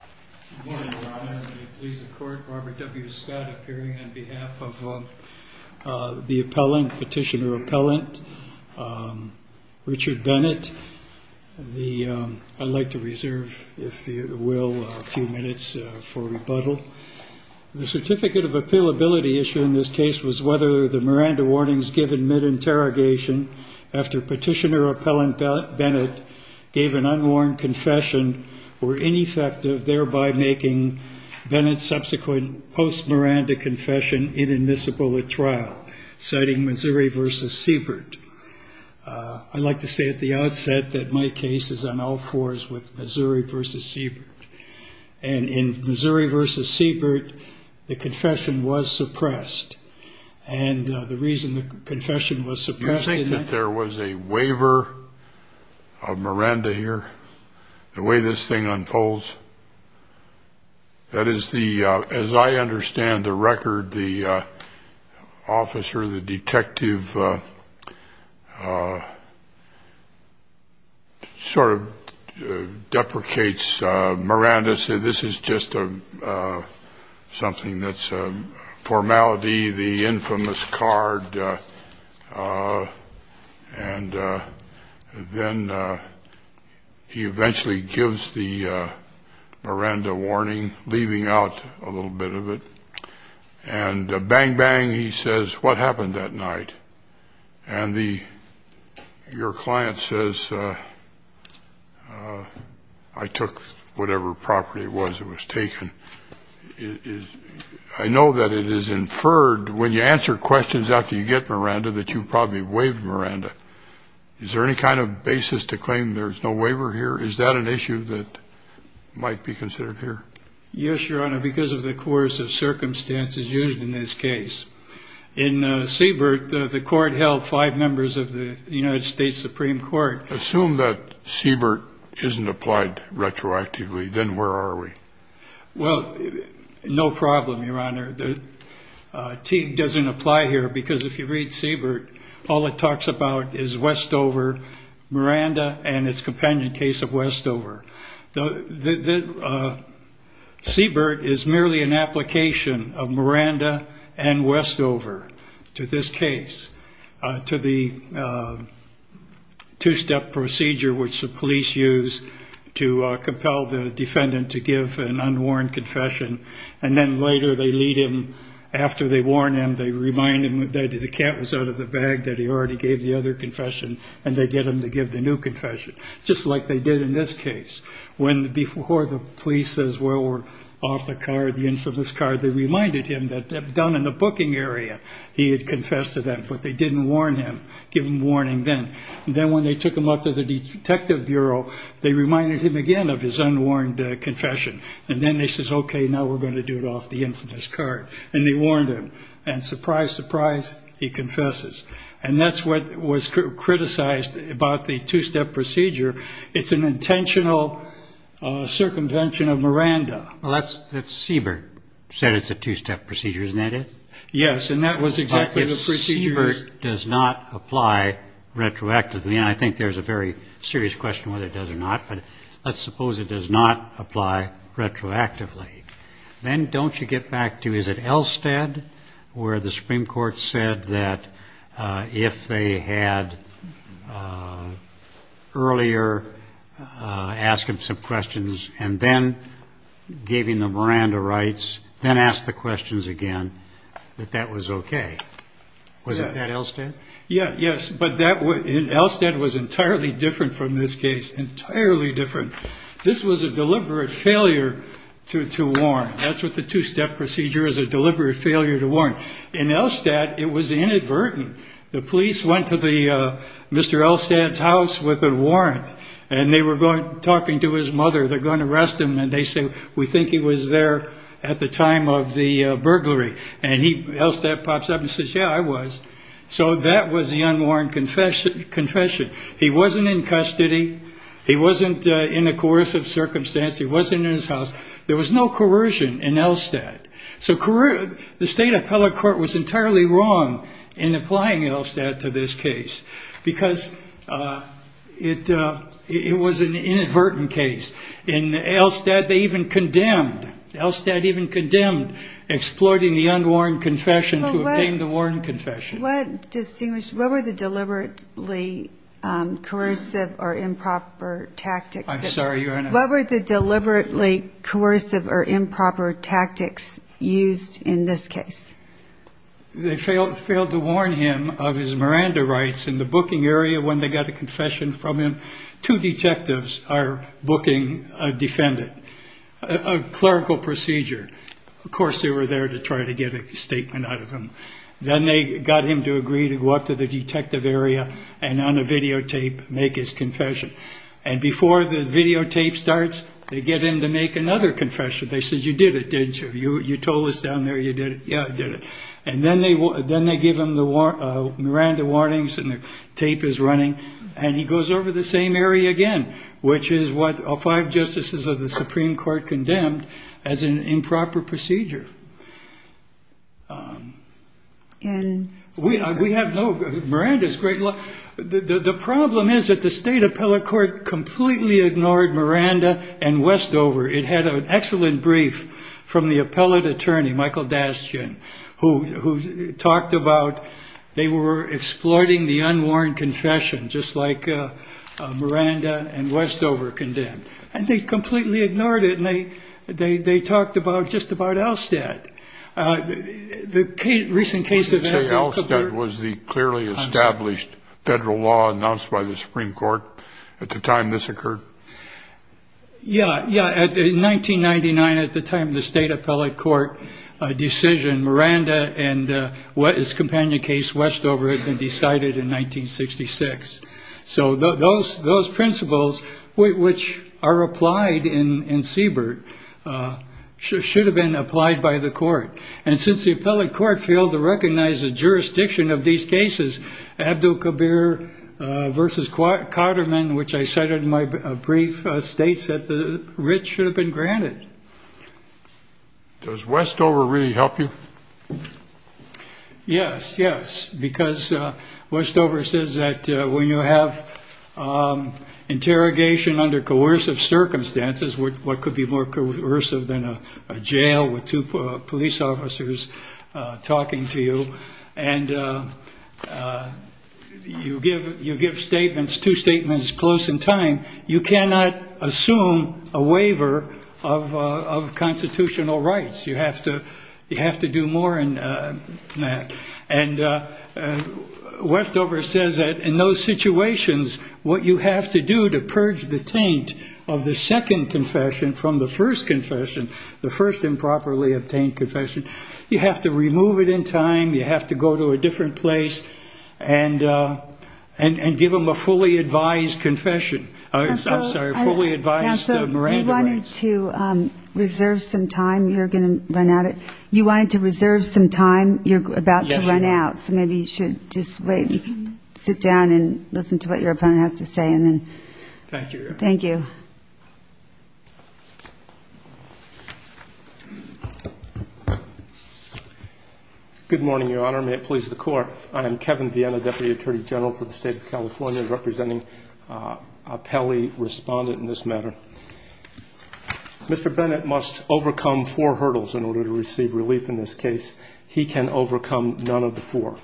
Good morning, Your Honor. Let me please the Court. Robert W. Scott appearing on behalf of the Petitioner-Appellant Richard Bennett. I'd like to reserve, if you will, a few minutes for rebuttal. The certificate of appealability issue in this case was whether the Miranda warnings given mid-interrogation after Petitioner-Appellant Bennett gave an unwarned confession were ineffective, thereby making Bennett's subsequent post-Miranda confession inadmissible at trial, citing Missouri v. Siebert. I'd like to say at the outset that my case is on all fours with Missouri v. Siebert. And in Missouri v. Siebert, the confession was suppressed. And the reason the confession was suppressed is that... ...sort of deprecates Miranda. So this is just something that's a formality, the infamous card. And then he eventually gives the Miranda warning, leaving out a little bit of it. And bang, bang, he says, what happened that night? And your client says, I took whatever property it was that was taken. I know that it is inferred when you answer questions after you get Miranda that you probably waived Miranda. Is there any kind of basis to claim there's no waiver here? Is that an issue that might be considered here? Yes, Your Honor, because of the coercive circumstances used in this case. In Siebert, the court held five members of the United States Supreme Court... Assume that Siebert isn't applied retroactively, then where are we? Well, no problem, Your Honor. Teague doesn't apply here because if you read Siebert, all it talks about is Westover, Miranda, and its companion case of Westover. Siebert is merely an application of Miranda and Westover to this case, to the two-step procedure which the police use to compel the defendant to give an unworn confession. And then later they lead him, after they warn him, they remind him that the cat was out of the bag, that he already gave the other confession, and they get him to give the new confession, just like they did in this case. When before the police says, well, we're off the card, the infamous card, they reminded him that down in the booking area he had confessed to that, but they didn't warn him, give him warning then. And then when they took him up to the detective bureau, they reminded him again of his unworn confession, and then they says, okay, now we're going to do it off the infamous card, and they warned him. And surprise, surprise, he confesses. And that's what was criticized about the two-step procedure. It's an intentional circumvention of Miranda. Well, Siebert said it's a two-step procedure, isn't that it? Yes, and that was exactly the procedure. But if Siebert does not apply retroactively, and I think there's a very serious question whether it does or not, but let's suppose it does not apply retroactively, then don't you get back to, is it Elstead where the Supreme Court said that if they had earlier asked him some questions and then gave him the Miranda rights, then asked the questions again, that that was okay? Yes. Was it at Elstead? Yes, but Elstead was entirely different from this case, entirely different. This was a deliberate failure to warn. That's what the two-step procedure is, a deliberate failure to warn. In Elstead, it was inadvertent. The police went to Mr. Elstead's house with a warrant, and they were talking to his mother. They're going to arrest him, and they say, we think he was there at the time of the burglary. And Elstead pops up and says, yeah, I was. So that was the unworn confession. He wasn't in custody. He wasn't in a coercive circumstance. He wasn't in his house. There was no coercion in Elstead. So the State Appellate Court was entirely wrong in applying Elstead to this case because it was an inadvertent case. In Elstead, they even condemned, Elstead even condemned exploiting the unworn confession to obtain the worn confession. What were the deliberately coercive or improper tactics used in this case? They failed to warn him of his Miranda rights in the booking area when they got a confession from him. Two detectives are booking a defendant, a clerical procedure. Of course, they were there to try to get a statement out of him. Then they got him to agree to go up to the detective area and on a videotape make his confession. And before the videotape starts, they get him to make another confession. They said, you did it, didn't you? You told us down there you did it. Yeah, I did it. And then they give him the Miranda warnings, and the tape is running. And he goes over the same area again, which is what all five justices of the Supreme Court condemned as an improper procedure. And we have no Miranda's great law. The problem is that the State Appellate Court completely ignored Miranda and Westover. It had an excellent brief from the appellate attorney, Michael Dasjian, who talked about they were exploiting the unwarned confession, just like Miranda and Westover condemned. And they completely ignored it, and they talked about just about Elstead. The recent case of Edgar Cooper. You say Elstead was the clearly established federal law announced by the Supreme Court at the time this occurred? Yeah, yeah. In 1999, at the time of the State Appellate Court decision, Miranda and his companion case, Westover, had been decided in 1966. So those principles, which are applied in Siebert, should have been applied by the court. And since the appellate court failed to recognize the jurisdiction of these cases, Abdul Kabir v. Cotterman, which I cited in my brief, states that the writ should have been granted. Does Westover really help you? Yes, yes, because Westover says that when you have interrogation under coercive circumstances, what could be more coercive than a jail with two police officers talking to you, and you give statements, two statements close in time, you cannot assume a waiver of constitutional rights. You have to do more than that. And Westover says that in those situations, what you have to do to purge the taint of the second confession from the first confession, the first improperly obtained confession, you have to remove it in time. You have to go to a different place and give them a fully advised confession. I'm sorry, fully advised Miranda rights. If you wanted to reserve some time, you're going to run out of it. You wanted to reserve some time. You're about to run out, so maybe you should just wait and sit down and listen to what your opponent has to say and then. Thank you, Your Honor. Thank you. May it please the Court. I am Kevin Vienna, Deputy Attorney General for the State of California, representing a Pelley respondent in this matter. Mr. Bennett must overcome four hurdles in order to receive relief in this case. He can overcome none of the four.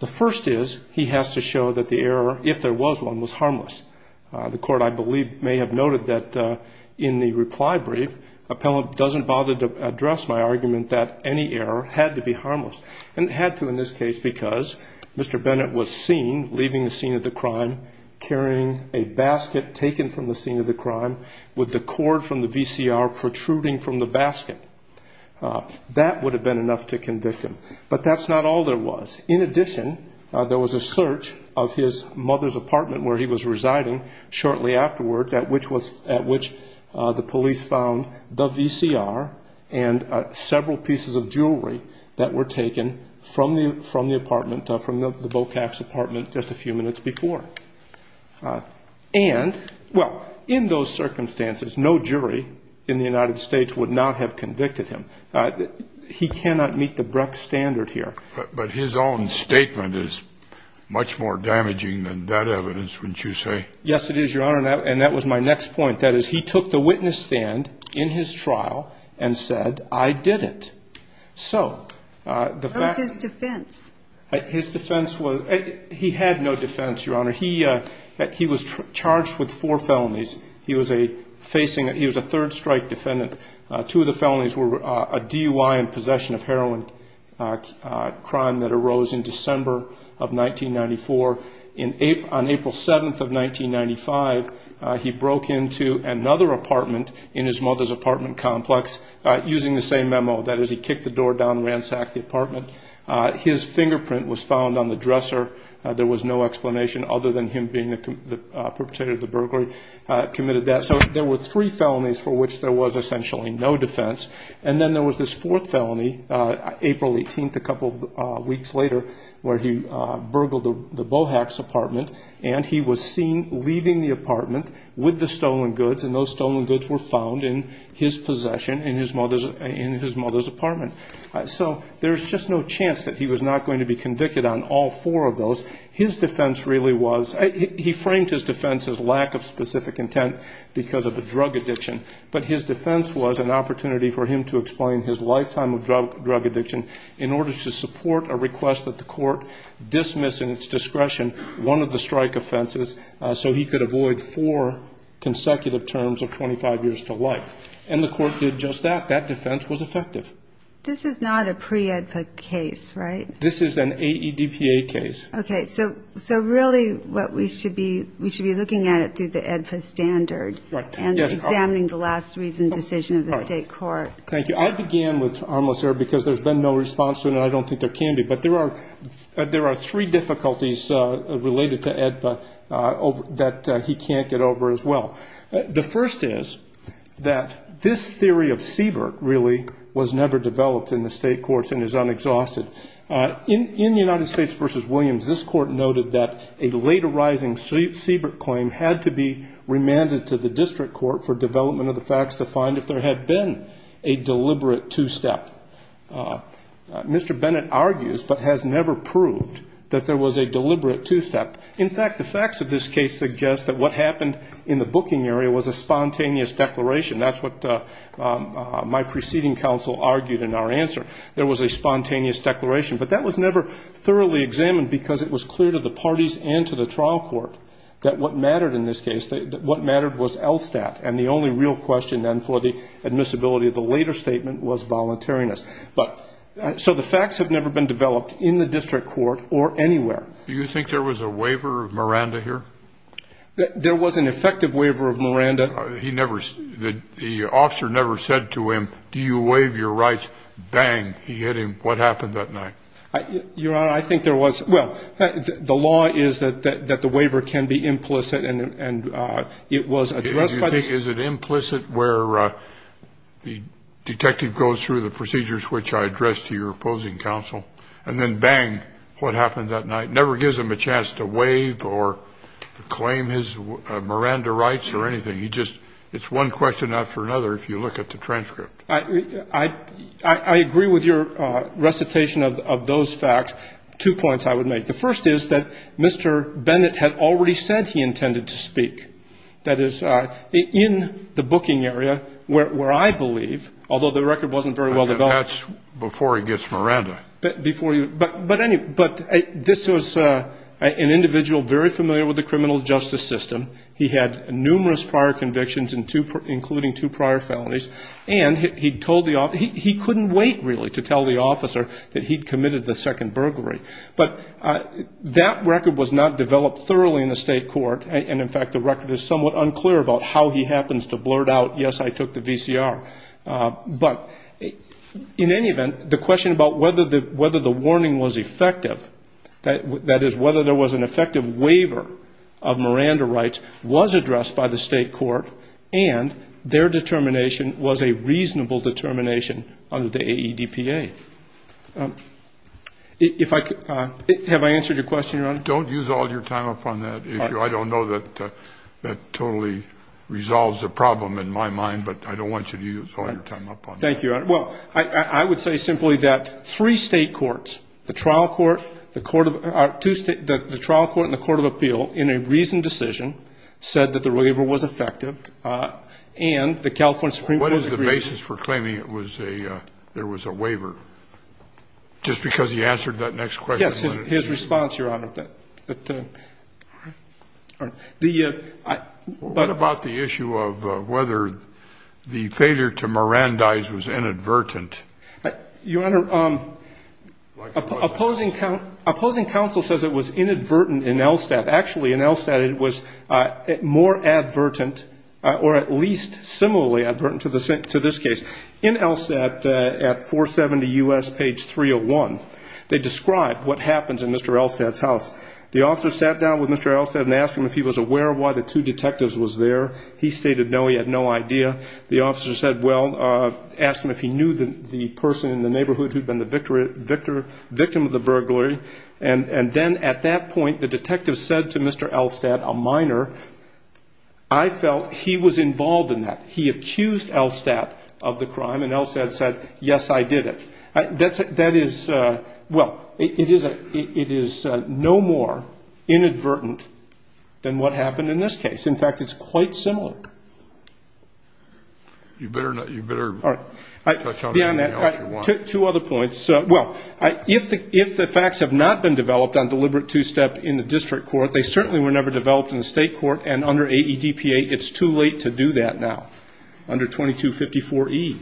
The first is he has to show that the error, if there was one, was harmless. The Court, I believe, may have noted that in the reply brief, doesn't bother to address my argument that any error had to be harmless. And it had to in this case because Mr. Bennett was seen leaving the scene of the crime, carrying a basket taken from the scene of the crime with the cord from the VCR protruding from the basket. That would have been enough to convict him. But that's not all there was. In addition, there was a search of his mother's apartment where he was residing shortly afterwards, at which the police found the VCR and several pieces of jewelry that were taken from the apartment, from the Bocax apartment just a few minutes before. And, well, in those circumstances, no jury in the United States would not have convicted him. He cannot meet the Brecht standard here. But his own statement is much more damaging than that evidence, wouldn't you say? Yes, it is, Your Honor, and that was my next point. That is, he took the witness stand in his trial and said, I did it. So, the fact- What was his defense? His defense was, he had no defense, Your Honor. He was charged with four felonies. He was a facing, he was a third-strike defendant. Two of the felonies were a DUI and possession of heroin crime that arose in December of 1994. On April 7th of 1995, he broke into another apartment in his mother's apartment complex using the same memo. That is, he kicked the door down, ransacked the apartment. His fingerprint was found on the dresser. There was no explanation other than him being the perpetrator of the burglary, committed that. So there were three felonies for which there was essentially no defense. And then there was this fourth felony, April 18th, a couple weeks later, where he burgled the Bohax apartment, and he was seen leaving the apartment with the stolen goods, and those stolen goods were found in his possession in his mother's apartment. So there's just no chance that he was not going to be convicted on all four of those. His defense really was, he framed his defense as lack of specific intent because of the drug addiction, but his defense was an opportunity for him to explain his lifetime of drug addiction in order to support a request that the court dismiss in its discretion one of the strike offenses so he could avoid four consecutive terms of 25 years to life. And the court did just that. That defense was effective. This is not a pre-AEDPA case, right? This is an AEDPA case. Okay. So really what we should be, we should be looking at it through the AEDPA standard and examining the last reason decision of the state court. Thank you. I began with harmless error because there's been no response to it, and I don't think there can be. But there are three difficulties related to AEDPA that he can't get over as well. The first is that this theory of Seabrook really was never developed in the state courts and is unexhausted. In the United States v. Williams, this court noted that a late arising Seabrook claim had to be remanded to the district court for development of the facts to find if there had been a deliberate two-step. Mr. Bennett argues but has never proved that there was a deliberate two-step. In fact, the facts of this case suggest that what happened in the booking area was a spontaneous declaration. That's what my preceding counsel argued in our answer. There was a spontaneous declaration. But that was never thoroughly examined because it was clear to the parties and to the trial court that what mattered in this case, that what mattered was ELSTAT. And the only real question then for the admissibility of the later statement was voluntariness. So the facts have never been developed in the district court or anywhere. Do you think there was a waiver of Miranda here? There was an effective waiver of Miranda. The officer never said to him, do you waive your rights? Bang, he hit him. What happened that night? Your Honor, I think there was – well, the law is that the waiver can be implicit and it was addressed by the – Is it implicit where the detective goes through the procedures which I addressed to your opposing counsel and then bang, what happened that night? Never gives him a chance to waive or claim his Miranda rights or anything. He just – it's one question after another if you look at the transcript. I agree with your recitation of those facts. Two points I would make. The first is that Mr. Bennett had already said he intended to speak. That is, in the booking area where I believe, although the record wasn't very well developed. That's before he gets Miranda. But this was an individual very familiar with the criminal justice system. He had numerous prior convictions, including two prior felonies, and he couldn't wait really to tell the officer that he'd committed the second burglary. But that record was not developed thoroughly in the state court, and, in fact, the record is somewhat unclear about how he happens to blurt out, yes, I took the VCR. But, in any event, the question about whether the warning was effective, that is, whether there was an effective waiver of Miranda rights, was addressed by the state court, and their determination was a reasonable determination under the AEDPA. Have I answered your question, Your Honor? Don't use all your time upon that issue. I don't know that that totally resolves the problem in my mind, but I don't want you to use all your time upon that. Thank you, Your Honor. Well, I would say simply that three state courts, the trial court and the court of appeal, in a reasoned decision said that the waiver was effective, and the California Supreme Court agreed. What is the basis for claiming there was a waiver, just because he answered that next question? Yes, his response, Your Honor. What about the issue of whether the failure to Mirandize was inadvertent? Your Honor, opposing counsel says it was inadvertent in Elstad. Actually, in Elstad it was more advertent, or at least similarly advertent to this case. In Elstad, at 470 U.S., page 301, they describe what happens in Mr. Elstad's house. The officer sat down with Mr. Elstad and asked him if he was aware of why the two detectives was there. He stated no, he had no idea. The officer said, well, asked him if he knew the person in the neighborhood who had been the victim of the burglary. And then at that point, the detective said to Mr. Elstad, a minor, I felt he was involved in that. He accused Elstad of the crime, and Elstad said, yes, I did it. That is, well, it is no more inadvertent than what happened in this case. In fact, it's quite similar. You better touch on anything else you want. Two other points. Well, if the facts have not been developed on deliberate two-step in the district court, they certainly were never developed in the state court, and under AEDPA it's too late to do that now, under 2254E,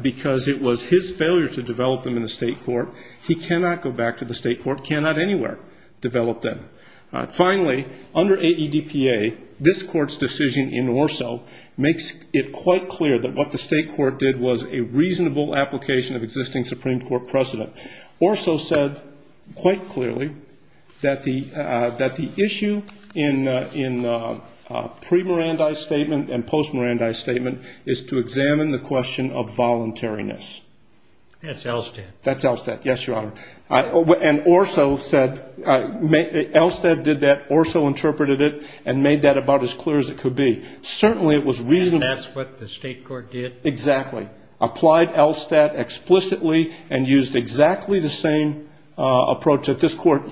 because it was his failure to develop them in the state court. He cannot go back to the state court, cannot anywhere develop them. Finally, under AEDPA, this court's decision in Orso makes it quite clear that what the state court did was a reasonable application of existing Supreme Court precedent. Orso said quite clearly that the issue in pre-Mirandi statement and post-Mirandi statement is to examine the question of voluntariness. That's Elstad. That's Elstad, yes, Your Honor. And Orso said, Elstad did that, Orso interpreted it, and made that about as clear as it could be. Certainly it was reasonable. And that's what the state court did? Exactly. Applied Elstad explicitly and used exactly the same approach that this court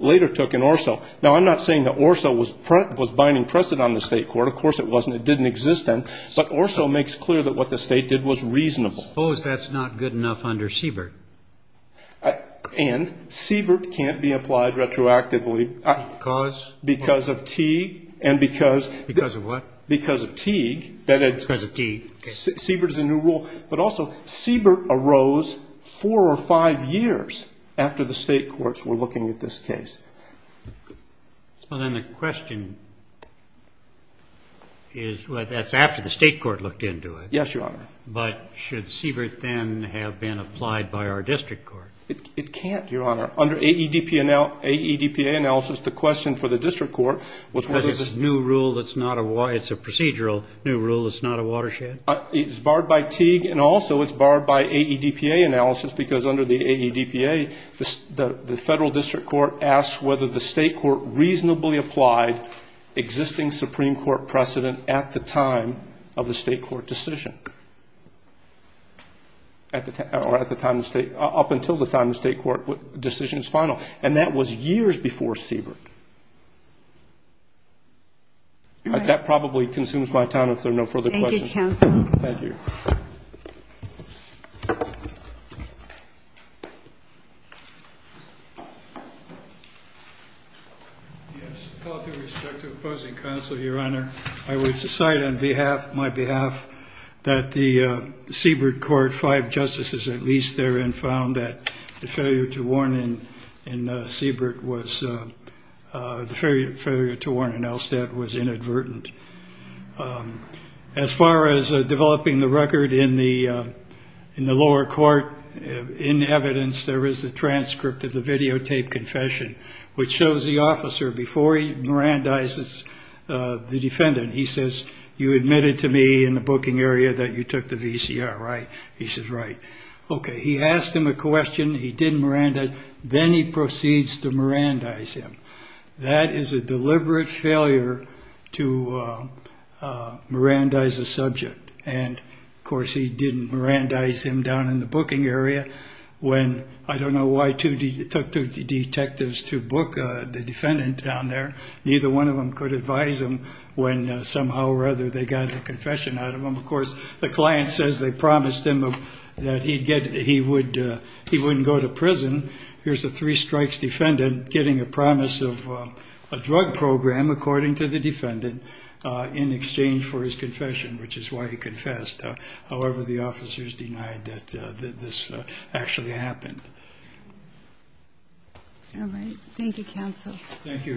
later took in Orso. Now, I'm not saying that Orso was binding precedent on the state court. Of course it wasn't. It didn't exist then. But Orso makes clear that what the state did was reasonable. Suppose that's not good enough under Siebert? And Siebert can't be applied retroactively. Because? Because of Teague and because of what? Because of Teague. Because of Teague. Siebert is a new rule. But also, Siebert arose four or five years after the state courts were looking at this case. Well, then the question is, well, that's after the state court looked into it. Yes, Your Honor. But should Siebert then have been applied by our district court? It can't, Your Honor. Under AEDPA analysis, the question for the district court was whether this new rule that's not a why, it's a procedural new rule that's not a watershed. It's barred by Teague, and also it's barred by AEDPA analysis, because under the AEDPA the federal district court asked whether the state court reasonably applied existing Supreme Court precedent at the time of the state court decision. Or at the time of the state, up until the time the state court decision is final. And that was years before Siebert. That probably consumes my time if there are no further questions. Thank you, counsel. Thank you. Yes, with all due respect to opposing counsel, Your Honor, I would decide on behalf, my behalf, that the Siebert court, five justices at least therein, found that the failure to warn in Siebert was, the failure to warn in Elstead was inadvertent. As far as developing the record in the lower court, in evidence there is a transcript of the videotape confession, which shows the officer before he mirandizes the defendant, he says, you admitted to me in the booking area that you took the VCR, right? He says, right. Okay. He asked him a question. He didn't mirandize. Then he proceeds to mirandize him. That is a deliberate failure to mirandize a subject. And, of course, he didn't mirandize him down in the booking area when, I don't know why two detectives took two detectives to book the defendant down there. Neither one of them could advise him when somehow or other they got a confession out of him. Of course, the client says they promised him that he wouldn't go to prison. Here's a three-strikes defendant getting a promise of a drug program, according to the defendant, in exchange for his confession, which is why he confessed. However, the officers denied that this actually happened. All right. Thank you, counsel. Thank you, Your Honor.